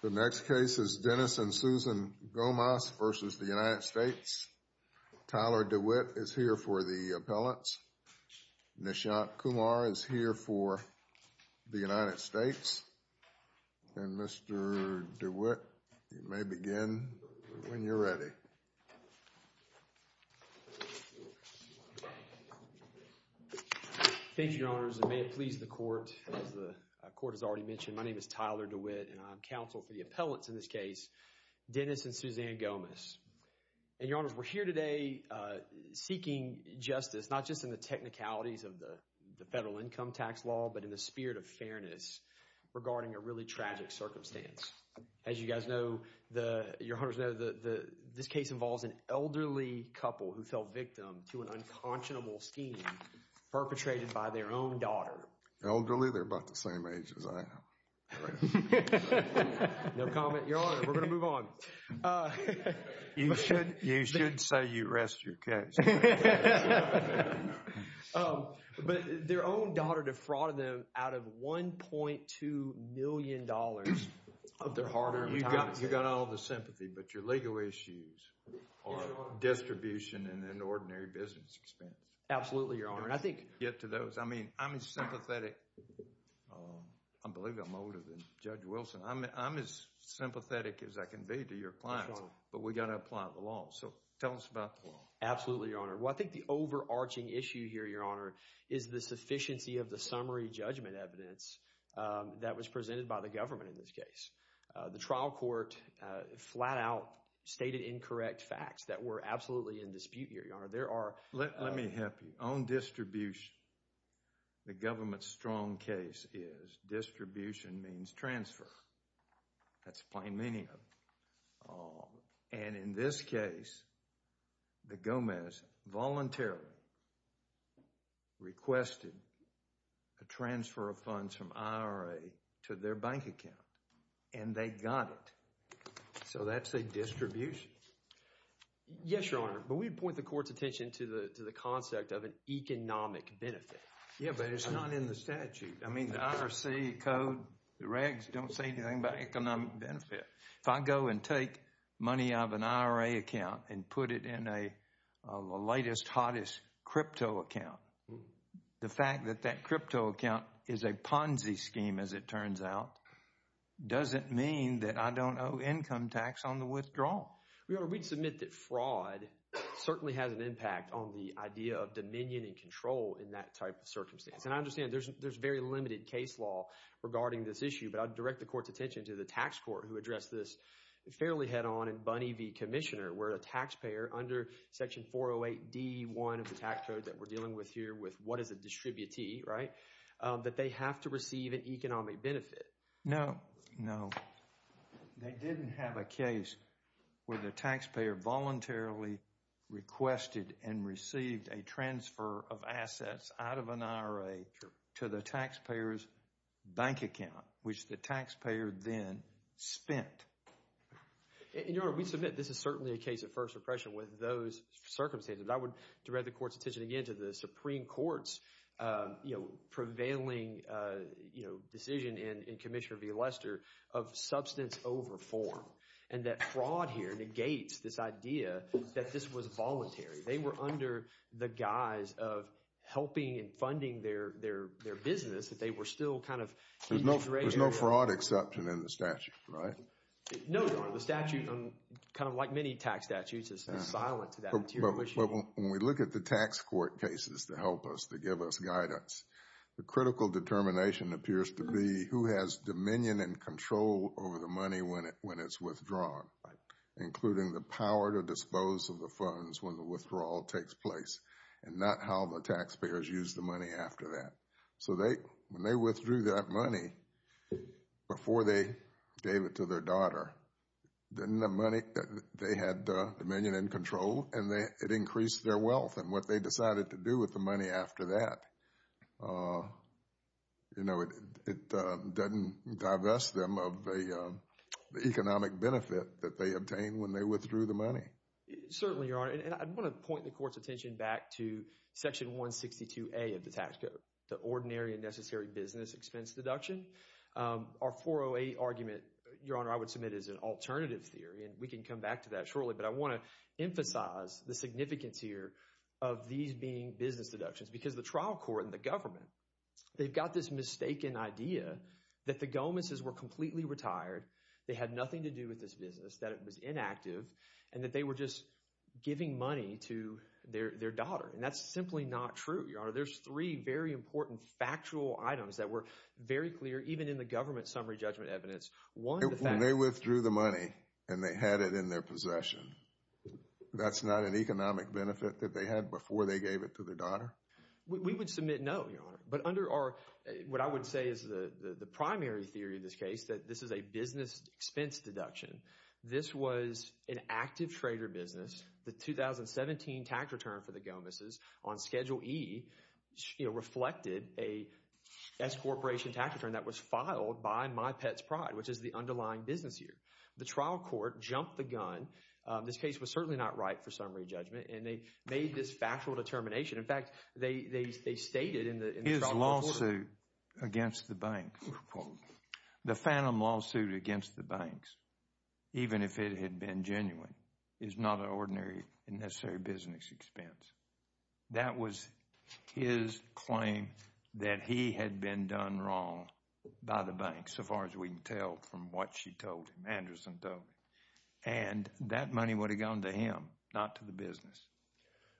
The next case is Dennis and Susan Gomas v. United States. Tyler DeWitt is here for the appellants. Nishant Kumar is here for the United States. And Mr. DeWitt, you may begin when you're ready. Thank you, Your Honors, and may it please the Court, as the Court has already mentioned, my name is Tyler DeWitt and I'm counsel for the appellants in this case, Dennis and Susan Gomas. And, Your Honors, we're here today seeking justice, not just in the technicalities of the federal income tax law, but in the spirit of fairness regarding a really tragic circumstance. As you guys know, Your Honors know, this case involves an elderly couple who fell victim to an unconscionable scheme perpetrated by their own daughter. Elderly? They're about the same age as I am. No comment. Your Honor, we're going to move on. You should say you rest your case. But their own daughter defrauded them out of $1.2 million of their hard-earned money. You've got all the sympathy, but your legal issues are distribution and an ordinary business expense. Absolutely, Your Honor. I think you should get to those. I mean, I'm sympathetic. I believe I'm older than Judge Wilson. I'm as sympathetic as I can be to your clients, but we've got to apply the law. So tell us about the law. Absolutely, Your Honor. Well, I think the overarching issue here, Your Honor, is the sufficiency of the summary judgment evidence that was presented by the government in this case. The trial court flat-out stated incorrect facts that were absolutely in dispute here, Your Honor. There are— Let me help you. On distribution, the government's strong case is distribution means transfer. That's the plain meaning of it. And in this case, the Gomez voluntarily requested a transfer of funds from IRA to their bank account, and they got it. So that's a distribution. Yes, Your Honor, but we'd point the court's attention to the concept of an economic benefit. Yeah, but it's not in the statute. I mean, the IRC code, the regs, don't say anything about economic benefit. If I go and take money out of an IRA account and put it in a latest, hottest crypto account, the fact that that crypto account is a Ponzi scheme, as it turns out, doesn't mean that I don't owe income tax on the withdrawal. Your Honor, we'd submit that fraud certainly has an impact on the idea of dominion and control in that type of circumstance. And I understand there's very limited case law regarding this issue, but I'd direct the court's attention to the tax court who addressed this fairly head-on in Bunny v. Commissioner, where a taxpayer, under Section 408 D.1 of the tax code that we're dealing with here with what is a distributee, right, that they have to receive an economic benefit. No. No. They didn't have a case where the taxpayer voluntarily requested and received a transfer of assets out of an IRA to the taxpayer's bank account, which the taxpayer then spent. Your Honor, we'd submit this is certainly a case of first impression with those circumstances. I would direct the court's attention again to the Supreme Court's prevailing decision in Commissioner v. Lester of substance over form, and that fraud here negates this idea that this was voluntary. They were under the guise of helping and funding their business, that they were still kind of keeping the rate. There's no fraud exception in the statute, right? No, Your Honor. The statute, kind of like many tax statutes, is silent to that material issue. When we look at the tax court cases to help us, to give us guidance, the critical determination appears to be who has dominion and control over the money when it's withdrawn, including the power to dispose of the funds when the withdrawal takes place, and not how the taxpayers use the money after that. So when they withdrew that money before they gave it to their daughter, didn't the money that they had dominion and control, and it increased their wealth, and what they decided to do with the money after that, you know, it doesn't divest them of the economic benefit that they obtained when they withdrew the money. Certainly, Your Honor. And I want to point the court's attention back to Section 162A of the tax code, the ordinary and necessary business expense deduction. Our 408 argument, Your Honor, I would submit is an alternative theory, and we can come back to that shortly, but I want to emphasize the significance here of these being business deductions, because the trial court and the government, they've got this mistaken idea that the Gomez's were completely retired. They had nothing to do with this business, that it was inactive, and that they were just giving money to their daughter, and that's simply not true, Your Honor. There's three very important factual items that were very clear, even in the government summary judgment evidence. One, the fact- When they withdrew the money, and they had it in their possession, that's not an economic benefit that they had before they gave it to their daughter? We would submit no, Your Honor. But under our, what I would say is the primary theory of this case, that this is a business expense deduction. This was an active trader business, the 2017 tax return for the Gomez's on Schedule E reflected a S-Corporation tax return that was filed by My Pet's Pride, which is the underlying business year. The trial court jumped the gun. This case was certainly not right for summary judgment, and they made this factual determination. In fact, they stated in the trial court- His lawsuit against the bank, the Phantom lawsuit against the banks, even if it had been genuine, is not an ordinary, unnecessary business expense. That was his claim that he had been done wrong by the bank, so far as we can tell from what she told him, Anderson told me. And that money would have gone to him, not to the business.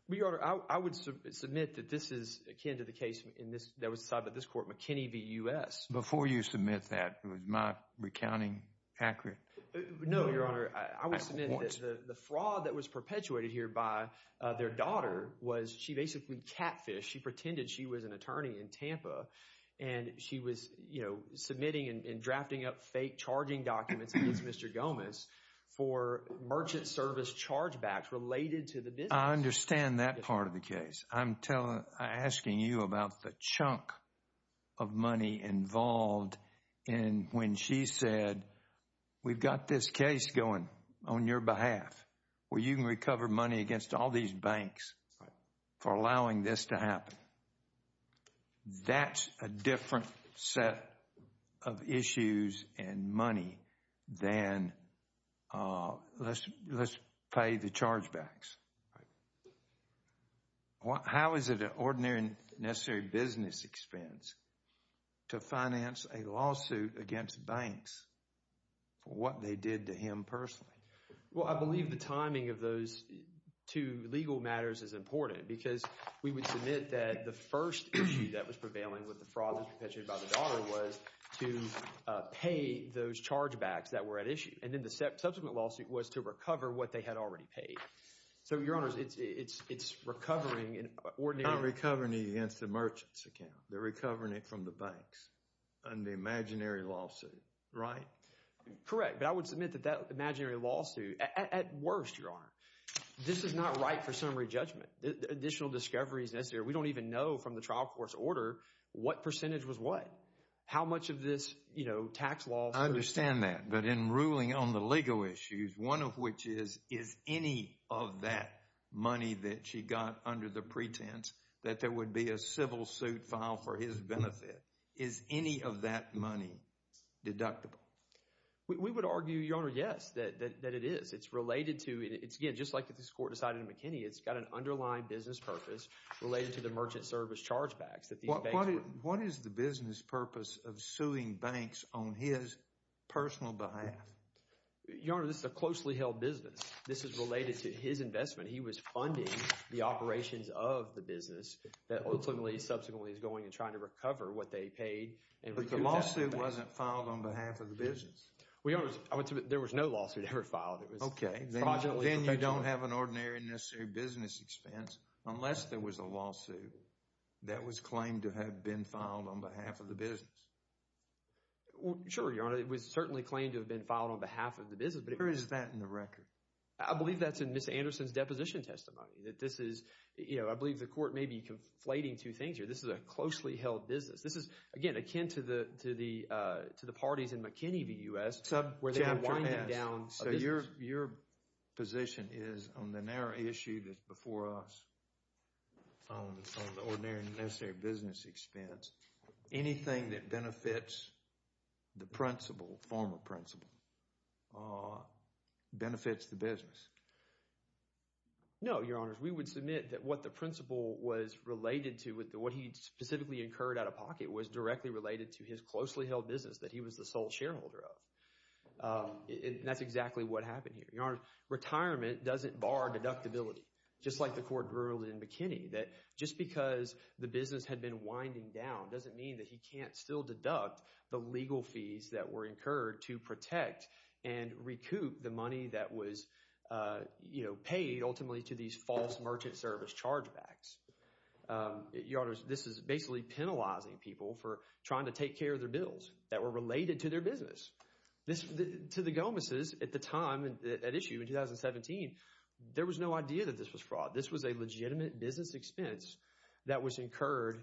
Well, Your Honor, I would submit that this is akin to the case that was decided by this court, McKinney v. U.S. Before you submit that, was my recounting accurate? No, Your Honor, I would submit that the fraud that was perpetuated here by their daughter was she basically catfished. She pretended she was an attorney in Tampa, and she was, you know, submitting and drafting up fake charging documents against Mr. Gomez for merchant service chargebacks related to the business. I understand that part of the case. I'm asking you about the chunk of money involved in when she said, we've got this case going on your behalf, where you can recover money against all these banks for allowing this to happen. Now, that's a different set of issues and money than, let's play the chargebacks. How is it an ordinary and necessary business expense to finance a lawsuit against banks for what they did to him personally? Well, I believe the timing of those two legal matters is important because we would submit that the first issue that was prevailing with the fraud that was perpetuated by the daughter was to pay those chargebacks that were at issue. And then the subsequent lawsuit was to recover what they had already paid. So Your Honor, it's recovering an ordinary… Not recovering it against the merchant's account. They're recovering it from the banks under the imaginary lawsuit, right? Correct. But I would submit that that imaginary lawsuit, at worst, Your Honor, this is not right for summary judgment. Additional discovery is necessary. We don't even know from the trial court's order what percentage was what. How much of this, you know, tax law… I understand that. But in ruling on the legal issues, one of which is, is any of that money that she got under the pretense that there would be a civil suit filed for his benefit, is any of that money deductible? We would argue, Your Honor, yes, that it is. It's related to… It's, again, just like this court decided in McKinney, it's got an underlying business purpose related to the merchant service chargebacks that these banks… What is the business purpose of suing banks on his personal behalf? Your Honor, this is a closely held business. This is related to his investment. He was funding the operations of the business that ultimately, subsequently, is going and trying to recover what they paid and… But the lawsuit wasn't filed on behalf of the business. Well, Your Honor, I would submit there was no lawsuit ever filed. It was… Okay. Then you don't have an ordinary and necessary business expense. Unless there was a lawsuit that was claimed to have been filed on behalf of the business. Well, sure, Your Honor, it was certainly claimed to have been filed on behalf of the business, but… Where is that in the record? I believe that's in Ms. Anderson's deposition testimony, that this is, you know, I believe the court may be conflating two things here. This is a closely held business. This is, again, akin to the parties in McKinney v. U.S. where they've been winding down a business. Your position is, on the narrow issue that's before us, on the ordinary and necessary business expense, anything that benefits the principal, former principal, benefits the business? No, Your Honors. We would submit that what the principal was related to, what he specifically incurred out of pocket, was directly related to his closely held business that he was the sole shareholder of. And that's exactly what happened here. Your Honor, retirement doesn't bar deductibility, just like the court ruled in McKinney that just because the business had been winding down doesn't mean that he can't still deduct the legal fees that were incurred to protect and recoup the money that was, you know, paid ultimately to these false merchant service chargebacks. Your Honor, this is basically penalizing people for trying to take care of their bills that were related to their business. To the Gomez's at the time, at issue in 2017, there was no idea that this was fraud. This was a legitimate business expense that was incurred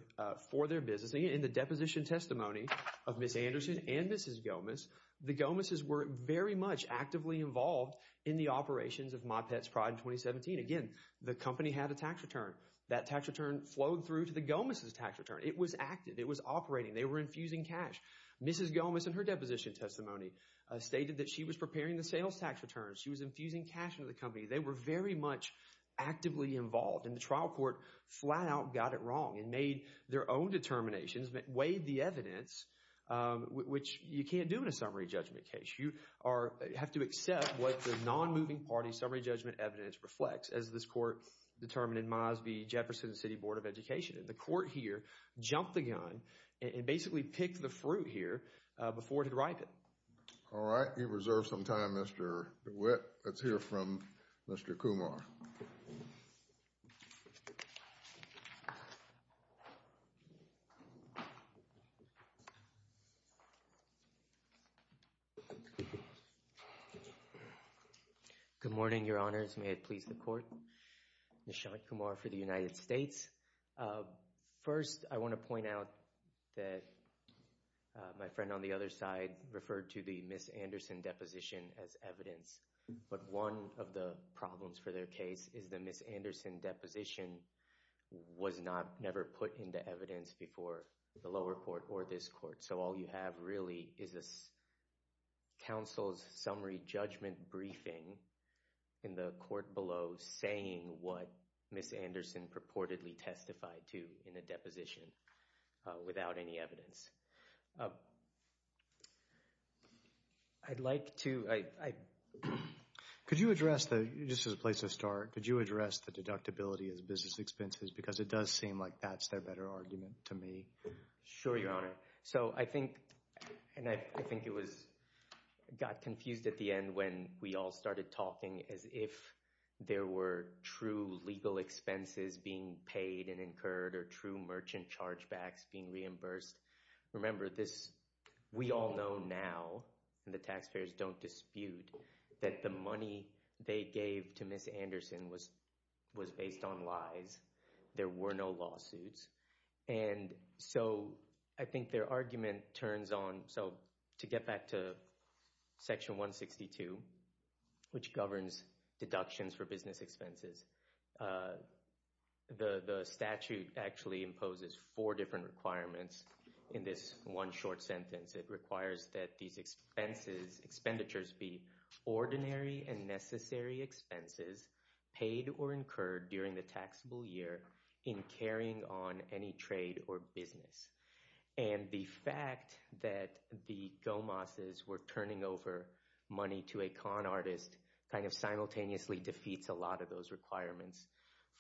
for their business. In the deposition testimony of Ms. Anderson and Mrs. Gomez, the Gomez's were very much actively involved in the operations of My Pet's Pride in 2017. Again, the company had a tax return. That tax return flowed through to the Gomez's tax return. It was active. It was operating. They were infusing cash. Mrs. Gomez, in her deposition testimony, stated that she was preparing the sales tax returns. She was infusing cash into the company. They were very much actively involved, and the trial court flat out got it wrong and made their own determinations, weighed the evidence, which you can't do in a summary judgment case. You have to accept what the non-moving party summary judgment evidence reflects, as this court determined in Mosby, Jefferson City Board of Education. The court here jumped the gun and basically picked the fruit here before it had ripened. All right. We reserve some time. Mr. DeWitt. Let's hear from Mr. Kumar. Good morning, your honors. May it please the court. Thank you. Nishant Kumar for the United States. First, I want to point out that my friend on the other side referred to the Ms. Anderson deposition as evidence, but one of the problems for their case is the Ms. Anderson deposition was never put into evidence before the lower court or this court, so all you have really is a counsel's summary judgment briefing in the court below saying what Ms. Anderson purportedly testified to in the deposition without any evidence. I'd like to... Could you address the, just as a place to start, could you address the deductibility as business expenses, because it does seem like that's their better argument to me. Sure, your honor. So I think, and I think it was, got confused at the end when we all started talking as if there were true legal expenses being paid and incurred or true merchant chargebacks being reimbursed. Remember this, we all know now, and the taxpayers don't dispute, that the money they gave to Ms. Anderson was based on lies. There were no lawsuits. And so I think their argument turns on, so to get back to section 162, which governs deductions for business expenses, the statute actually imposes four different requirements in this one short sentence. It requires that these expenses, expenditures be ordinary and necessary expenses paid or incurred during the taxable year in carrying on any trade or business. And the fact that the Gomez's were turning over money to a con artist kind of simultaneously defeats a lot of those requirements.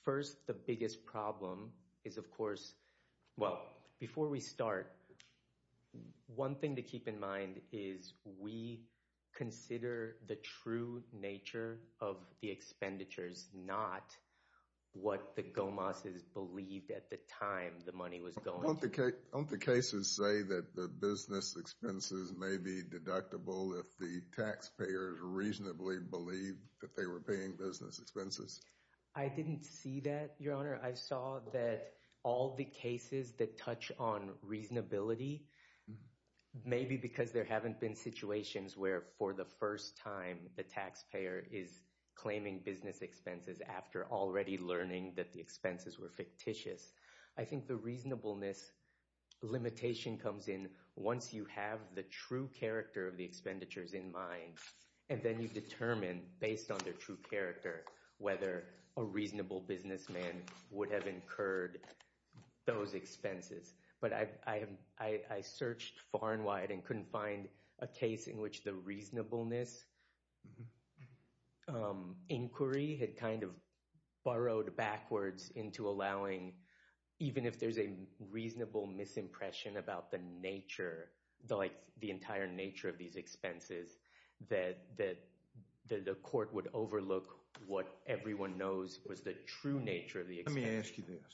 First, the biggest problem is, of course, well, before we start, one thing to keep in mind is we consider the true nature of the expenditures, not what the Gomez's believed at the time the money was going to. Don't the cases say that the business expenses may be deductible if the taxpayers reasonably believe that they were paying business expenses? I didn't see that, Your Honor. I saw that all the cases that touch on reasonability, maybe because there haven't been situations where for the first time the taxpayer is claiming business expenses after already learning that the expenses were fictitious. I think the reasonableness limitation comes in once you have the true character of the expenditures in mind, and then you determine based on their true character whether a reasonable businessman would have incurred those expenses. But I searched far and wide and couldn't find a case in which the reasonableness inquiry had kind of burrowed backwards into allowing, even if there's a reasonable misimpression about the nature, the entire nature of these expenses, that the court would overlook what everyone knows was the true nature of the expenditures. Let me ask you this.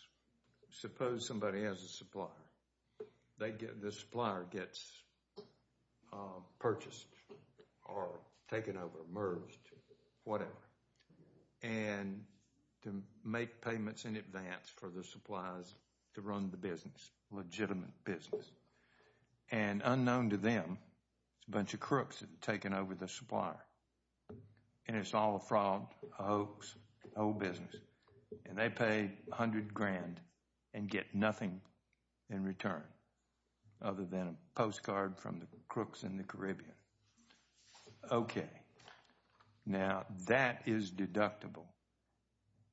Suppose somebody has a supplier. The supplier gets purchased or taken over, merged, whatever, and to make payments in advance for the suppliers to run the business, legitimate business. And unknown to them, it's a bunch of crooks that have taken over the supplier. And it's all a fraud, a hoax, a whole business, and they pay a hundred grand and get nothing in return other than a postcard from the crooks in the Caribbean. Okay. Now, that is deductible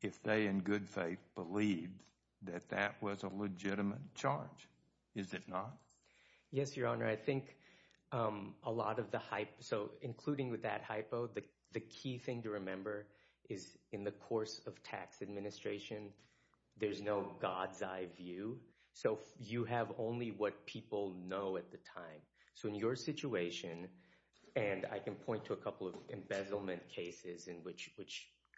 if they in good faith believe that that was a legitimate charge. Is it not? Yes, Your Honor. I think a lot of the hype, so including with that hypo, the key thing to remember is in the course of tax administration, there's no God's eye view. So you have only what people know at the time. So in your situation, and I can point to a couple of embezzlement cases in which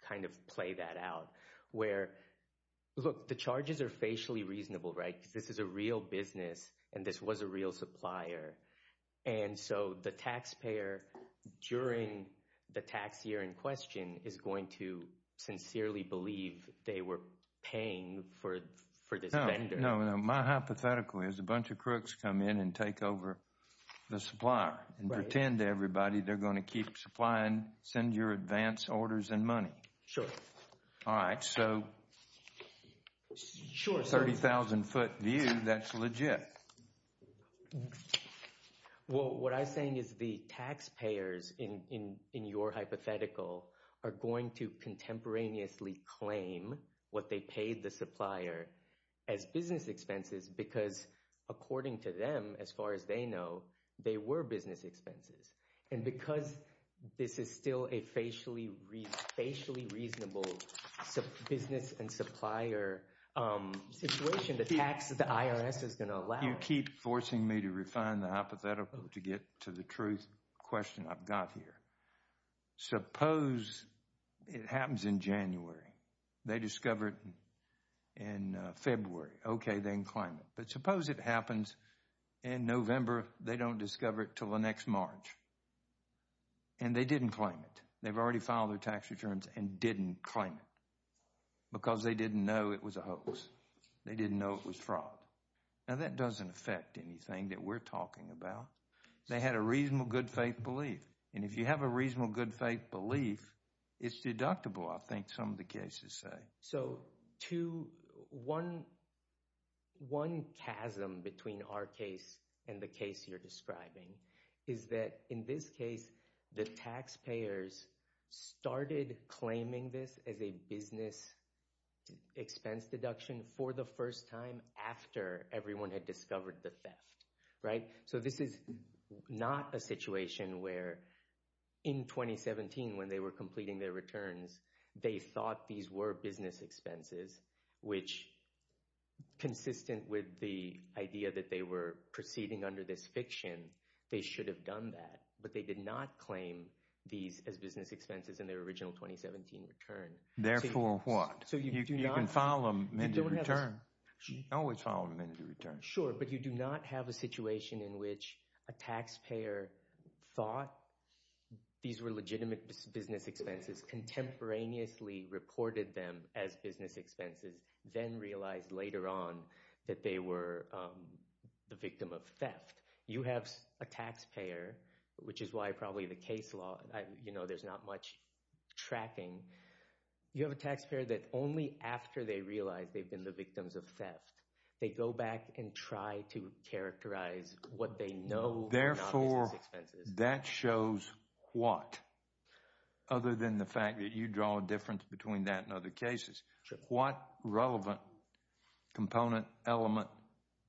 kind of play that out, where, look, the charges are facially reasonable, right, because this is a real business and this was a real supplier. And so the taxpayer, during the tax year in question, is going to sincerely believe they were paying for this vendor. No, no. My hypothetical is a bunch of crooks come in and take over the supplier and pretend to everybody they're going to keep supplying, send your advance orders and money. Sure. All right. So 30,000 foot view, that's legit. Well, what I'm saying is the taxpayers in your hypothetical are going to contemporaneously claim what they paid the supplier as business expenses because according to them, as far as they know, they were business expenses. And because this is still a facially reasonable business and supplier situation, the IRS is going to allow it. You keep forcing me to refine the hypothetical to get to the truth question I've got here. Suppose it happens in January. They discover it in February, okay, then claim it. But suppose it happens in November, they don't discover it till the next March and they didn't claim it. They've already filed their tax returns and didn't claim it because they didn't know it was a hoax. They didn't know it was fraud. Now that doesn't affect anything that we're talking about. They had a reasonable good faith belief and if you have a reasonable good faith belief, it's deductible I think some of the cases say. So one chasm between our case and the case you're describing is that in this case, the taxpayers started claiming this as a business expense deduction for the first time after everyone had discovered the theft, right? So this is not a situation where in 2017 when they were completing their returns, they thought these were business expenses, which consistent with the idea that they were proceeding under this fiction, they should have done that, but they did not claim these as business expenses in their original 2017 return. Therefore what? You can file them in the return. Always file them in the return. Sure, but you do not have a situation in which a taxpayer thought these were legitimate business expenses, contemporaneously reported them as business expenses, then realized later on that they were the victim of theft. You have a taxpayer, which is why probably the case law, you know, there's not much tracking. You have a taxpayer that only after they realize they've been the victims of theft, they go back and try to characterize what they know. Therefore, that shows what? Other than the fact that you draw a difference between that and other cases. What relevant component, element,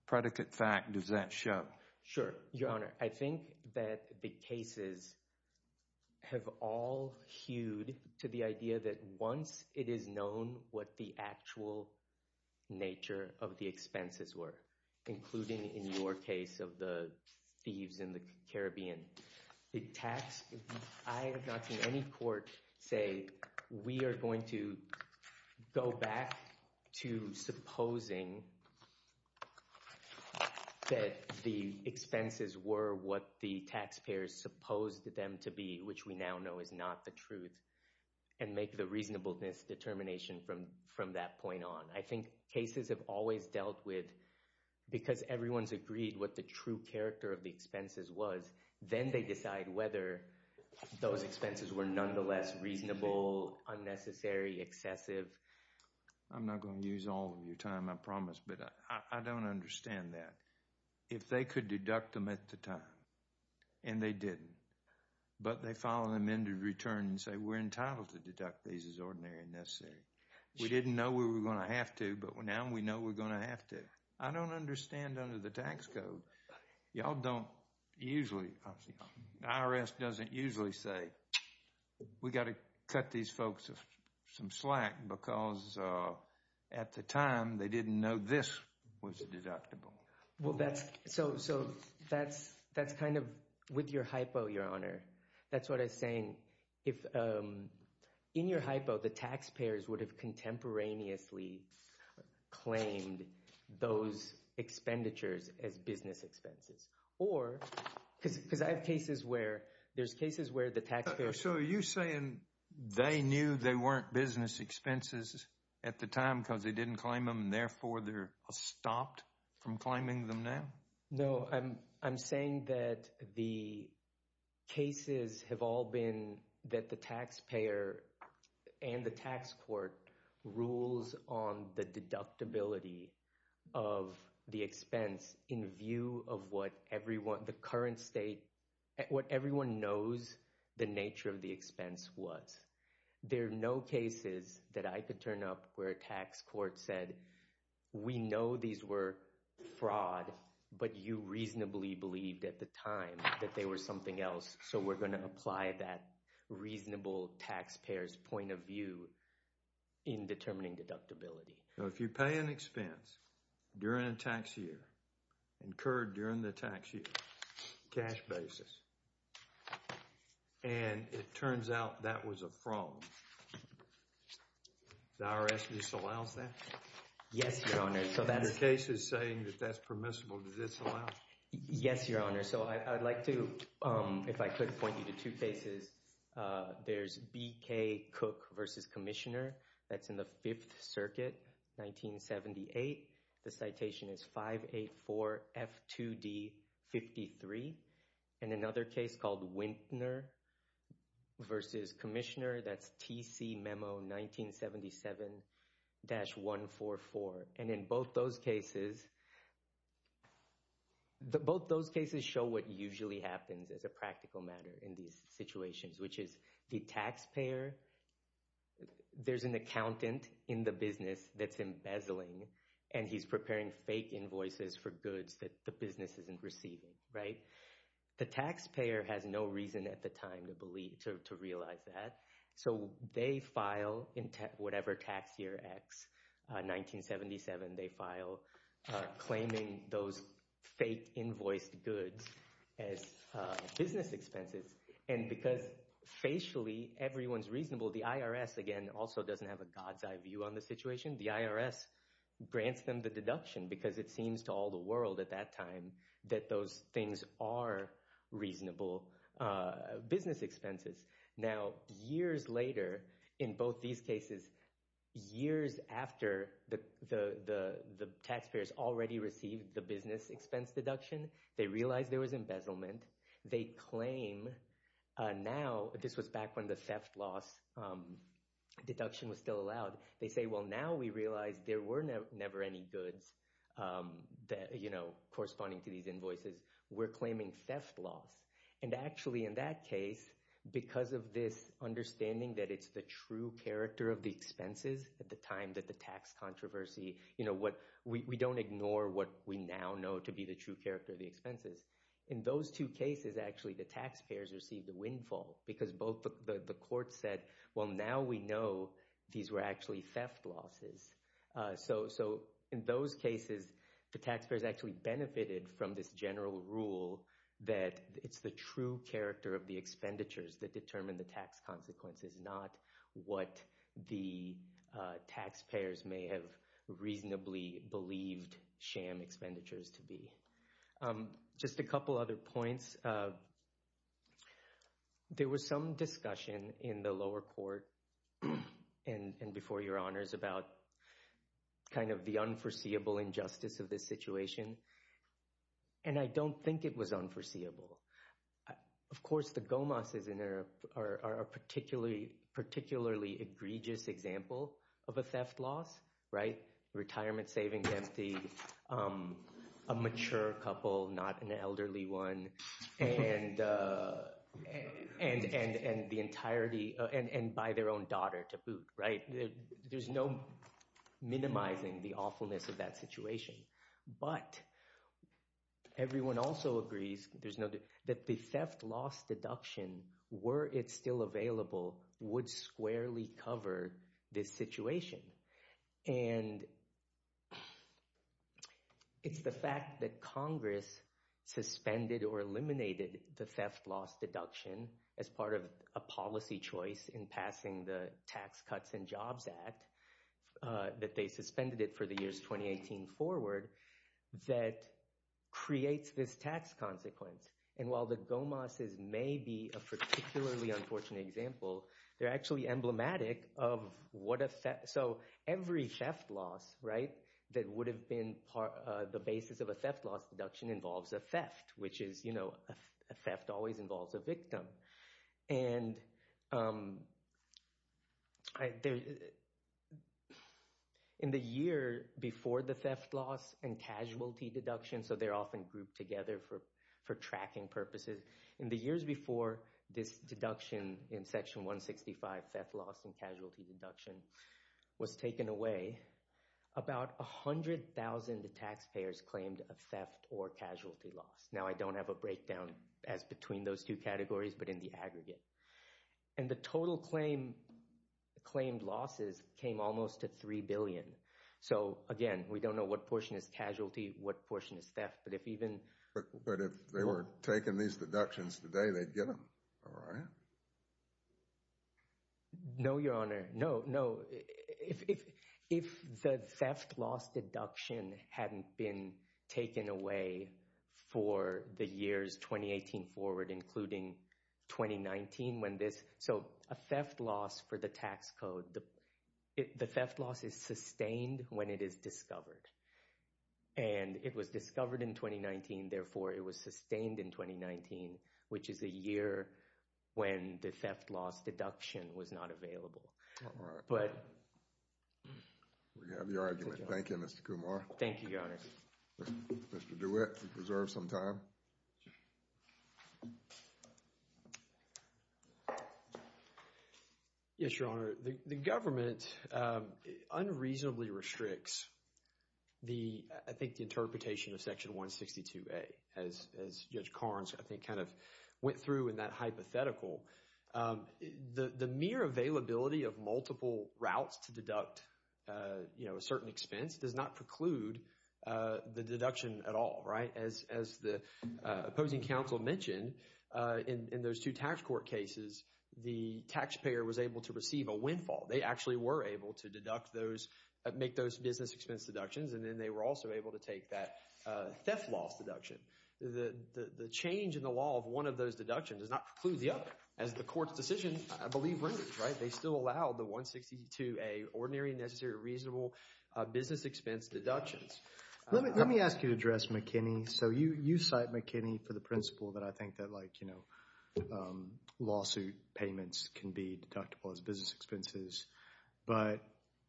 predicate fact does that show? Sure, Your Honor, I think that the cases have all hewed to the idea that once it is known what the actual nature of the expenses were, including in your case of the thieves in the I have not seen any court say we are going to go back to supposing that the expenses were what the taxpayers supposed them to be, which we now know is not the truth, and make the reasonableness determination from that point on. I think cases have always dealt with, because everyone's agreed what the true character of the expenses was, then they decide whether those expenses were nonetheless reasonable, unnecessary, excessive. I'm not going to use all of your time, I promise, but I don't understand that. If they could deduct them at the time, and they didn't, but they file an amended return and say we're entitled to deduct these as ordinary and necessary. We didn't know we were going to have to, but now we know we're going to have to. I don't understand under the tax code. Y'all don't usually, the IRS doesn't usually say we've got to cut these folks some slack because at the time they didn't know this was deductible. Well that's, so that's kind of with your hypo, Your Honor. That's what I was saying. In your hypo, the taxpayers would have contemporaneously claimed those expenditures as business expenses. Or, because I have cases where, there's cases where the taxpayers... So are you saying they knew they weren't business expenses at the time because they didn't claim them and therefore they're stopped from claiming them now? No, I'm saying that the cases have all been that the taxpayer and the tax court rules on the deductibility of the expense in view of what everyone, the current state, what everyone knows the nature of the expense was. There are no cases that I could turn up where a tax court said we know these were fraud, but you reasonably believed at the time that they were something else. So we're going to apply that reasonable taxpayer's point of view in determining deductibility. So if you pay an expense during a tax year, incurred during the tax year, cash basis, and it turns out that was a fraud, the IRS disallows that? Yes, Your Honor. So in your cases saying that that's permissible, does this allow? Yes, Your Honor. So I'd like to, if I could point you to two cases. There's B.K. Cook v. Commissioner. That's in the Fifth Circuit, 1978. The citation is 584 F2D 53. And another case called Wintner v. Commissioner. That's TC Memo 1977-144. And in both those cases, both those cases show what usually happens as a practical matter in these situations, which is the taxpayer, there's an accountant in the business that's embezzling, and he's preparing fake invoices for goods that the business isn't receiving, right? The taxpayer has no reason at the time to believe, to realize that. So they file in whatever tax year X, 1977, they file claiming those fake invoiced goods as business expenses. And because facially everyone's reasonable, the IRS, again, also doesn't have a god's eye view on the situation. The IRS grants them the deduction because it seems to all the world at that time that those things are reasonable business expenses. Now, years later, in both these cases, years after the taxpayers already received the business expense deduction, they realized there was embezzlement. They claim now, this was back when the theft loss deduction was still allowed. They say, well, now we realize there were never any goods that, you know, corresponding to these invoices. We're claiming theft loss. And actually, in that case, because of this understanding that it's the true character of the expenses at the time that the tax controversy, you know, we don't ignore what we now know to be the true character of the expenses. In those two cases, actually, the taxpayers received a windfall because both the courts said, well, now we know these were actually theft losses. So, in those cases, the taxpayers actually benefited from this general rule that it's the true character of the expenditures that determine the tax consequences, not what the taxpayers may have reasonably believed sham expenditures to be. Just a couple other points. First, there was some discussion in the lower court and before your honors about kind of the unforeseeable injustice of this situation. And I don't think it was unforeseeable. Of course, the Gomas are a particularly egregious example of a theft loss, right? Retirement savings empty, a mature couple, not an elderly one, and by their own daughter to boot, right? There's no minimizing the awfulness of that situation. But everyone also agrees that the theft loss deduction, were it still available, would squarely cover this situation. And it's the fact that Congress suspended or eliminated the theft loss deduction as part of a policy choice in passing the Tax Cuts and Jobs Act, that they suspended it for the years 2018 forward, that creates this tax consequence. And while the Gomas may be a particularly unfortunate example, they're actually emblematic of what a theft, so every theft loss, right, that would have been the basis of a theft loss deduction involves a theft, which is, you know, a theft always involves a victim. And in the year before the theft loss and casualty deduction, so they're often grouped together for tracking purposes, in the years before this deduction in Section 165, theft loss and casualty deduction was taken away, about 100,000 taxpayers claimed a theft or casualty loss. Now, I don't have a breakdown as between those two categories, but in the aggregate. And the total claim, claimed losses came almost to $3 billion. So again, we don't know what portion is casualty, what portion is theft, but if even... But if they were taking these deductions today, they'd get them, all right? No, Your Honor. No, no, if the theft loss deduction hadn't been taken away for the years 2018 forward, including 2019, when this... So a theft loss for the tax code, the theft loss is sustained when it is discovered. And it was discovered in 2019, therefore it was sustained in 2019, which is a year when the theft loss deduction was not available. All right. But... We have your argument. Thank you, Mr. Kumar. Thank you, Your Honor. Mr. DeWitt, reserve some time. Yes, Your Honor. The government unreasonably restricts the, I think, the interpretation of Section 162a, as Judge Carnes, I think, kind of went through in that hypothetical. The mere availability of multiple routes to deduct a certain expense does not preclude the deduction at all, right? As the opposing counsel mentioned, in those two tax court cases, the taxpayer was able to receive a windfall. They actually were able to deduct those, make those business expense deductions, and then they were also able to take that theft loss deduction. The change in the law of one of those deductions does not preclude the other, as the court's decision, I believe, renders, right? They still allow the 162a, ordinary, necessary, reasonable business expense deductions. Let me ask you to address McKinney. So you cite McKinney for the principle that I think that, like, you know, lawsuit payments can be deductible as business expenses. But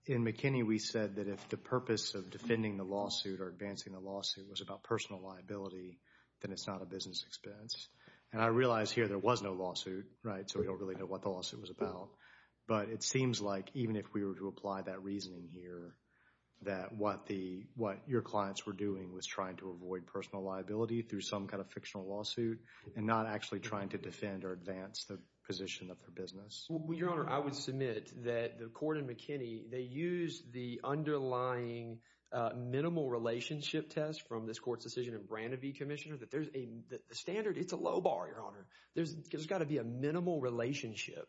in McKinney, we said that if the purpose of defending the lawsuit or advancing the lawsuit was about personal liability, then it's not a business expense. And I realize here there was no lawsuit, right? So we don't really know what the lawsuit was about. But it seems like, even if we were to apply that reasoning here, that what the, what your clients were doing was trying to avoid personal liability through some kind of fictional lawsuit, and not actually trying to defend or advance the position of their business. Your Honor, I would submit that the court in McKinney, they used the underlying minimal relationship test from this court's decision in Brandeview, Commissioner, that there's a standard, it's a low bar, Your Honor. There's got to be a minimal relationship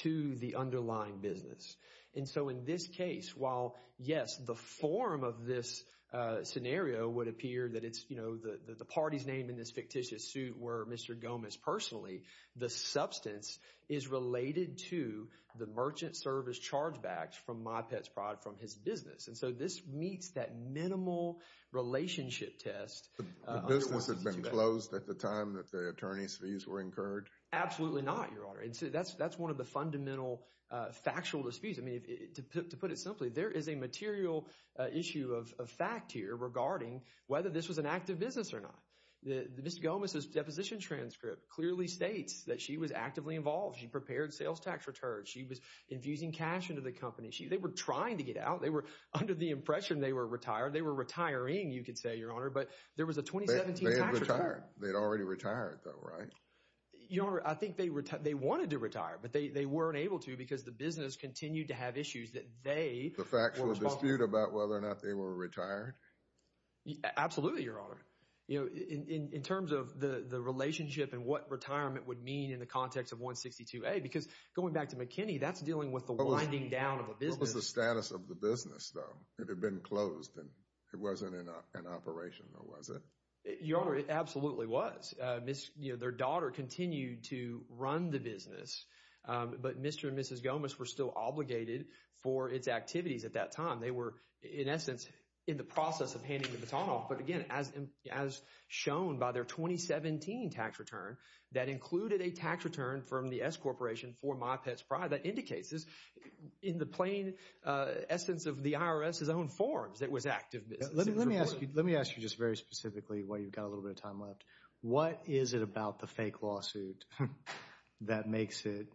to the underlying business. And so in this case, while, yes, the form of this scenario would appear that it's, you know, the party's name in this fictitious suit were Mr. Gomez personally, the substance is related to the merchant service chargeback from MyPetsProd from his business. And so this meets that minimal relationship test. The business had been closed at the time that the attorney's fees were incurred? Absolutely not, Your Honor. And so that's one of the fundamental factual disputes. I mean, to put it simply, there is a material issue of fact here regarding whether this was an act of business or not. Mr. Gomez's deposition transcript clearly states that she was actively involved. She prepared sales tax returns. She was infusing cash into the company. They were trying to get out. They were under the impression they were retired. They were retiring, you could say, Your Honor. But there was a 2017 tax return. They had retired. They had already retired though, right? Your Honor, I think they wanted to retire, but they weren't able to because the business continued to have issues that they were responsible for. The factual dispute about whether or not they were retired? Absolutely, Your Honor. You know, in terms of the relationship and what retirement would mean in the context of 162A, because going back to McKinney, that's dealing with the winding down of a business. What was the status of the business though? It had been closed and it wasn't in operation, was it? Your Honor, it absolutely was. Their daughter continued to run the business, but Mr. and Mrs. Gomez were still obligated for its activities at that time. They were, in essence, in the process of handing the baton off. But again, as shown by their 2017 tax return, that included a tax return from the S-Corporation for my pet's pride. That indicates, in the plain essence of the IRS's own forms, it was active. Let me ask you just very specifically while you've got a little bit of time left. What is it about the fake lawsuit that makes it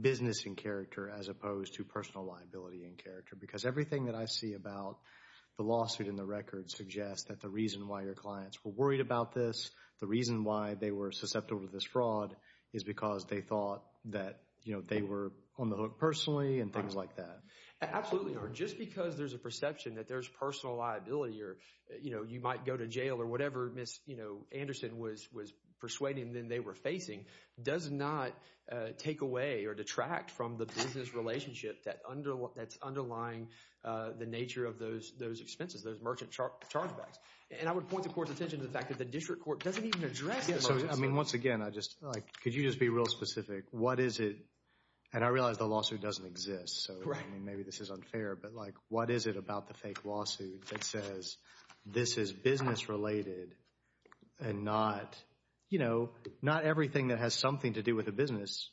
business in character as opposed to personal liability in character? Everything that I see about the lawsuit and the record suggests that the reason why your clients were worried about this, the reason why they were susceptible to this fraud, is because they thought that they were on the hook personally and things like that. Absolutely, Your Honor. Just because there's a perception that there's personal liability or you might go to jail or whatever Ms. Anderson was persuading them they were facing, does not take away or detract from the business relationship that's underlying the nature of those expenses, those merchant chargebacks. I would point the court's attention to the fact that the district court doesn't even address it. I mean, once again, could you just be real specific? What is it, and I realize the lawsuit doesn't exist, so maybe this is unfair, but what is it about the fake lawsuit that says this is business related and not, you know, not everything that has something to do with a business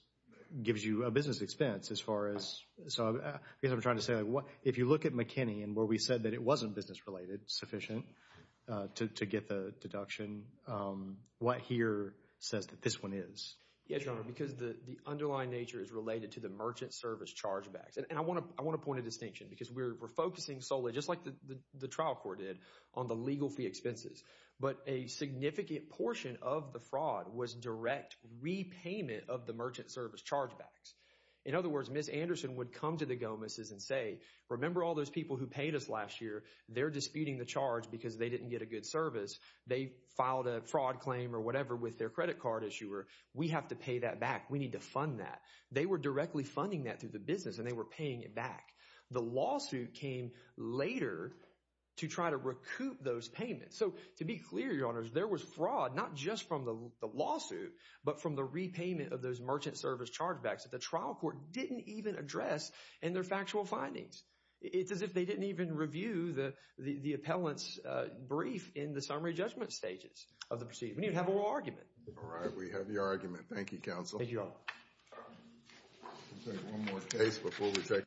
gives you a business expense as far as, so I guess I'm trying to say like, if you look at McKinney and where we said that it wasn't business related, sufficient to get the deduction, what here says that this one is? Yes, Your Honor, because the underlying nature is related to the merchant service chargebacks. And I want to point a distinction because we're focusing solely, just like the trial court did, on the legal fee expenses. But a significant portion of the fraud was direct repayment of the merchant service chargebacks. In other words, Ms. Anderson would come to the Gomez's and say, remember all those people who paid us last year? They're disputing the charge because they didn't get a good service. They filed a fraud claim or whatever with their credit card issuer. We have to pay that back. We need to fund that. They were directly funding that through the business and they were paying it back. The lawsuit came later to try to recoup those payments. To be clear, Your Honor, there was fraud, not just from the lawsuit, but from the repayment of those merchant service chargebacks that the trial court didn't even address in their factual findings. It's as if they didn't even review the appellant's brief in the summary judgment stages of the proceedings. We didn't even have a real argument. All right, we have your argument. Thank you, counsel. Thank you, Your Honor.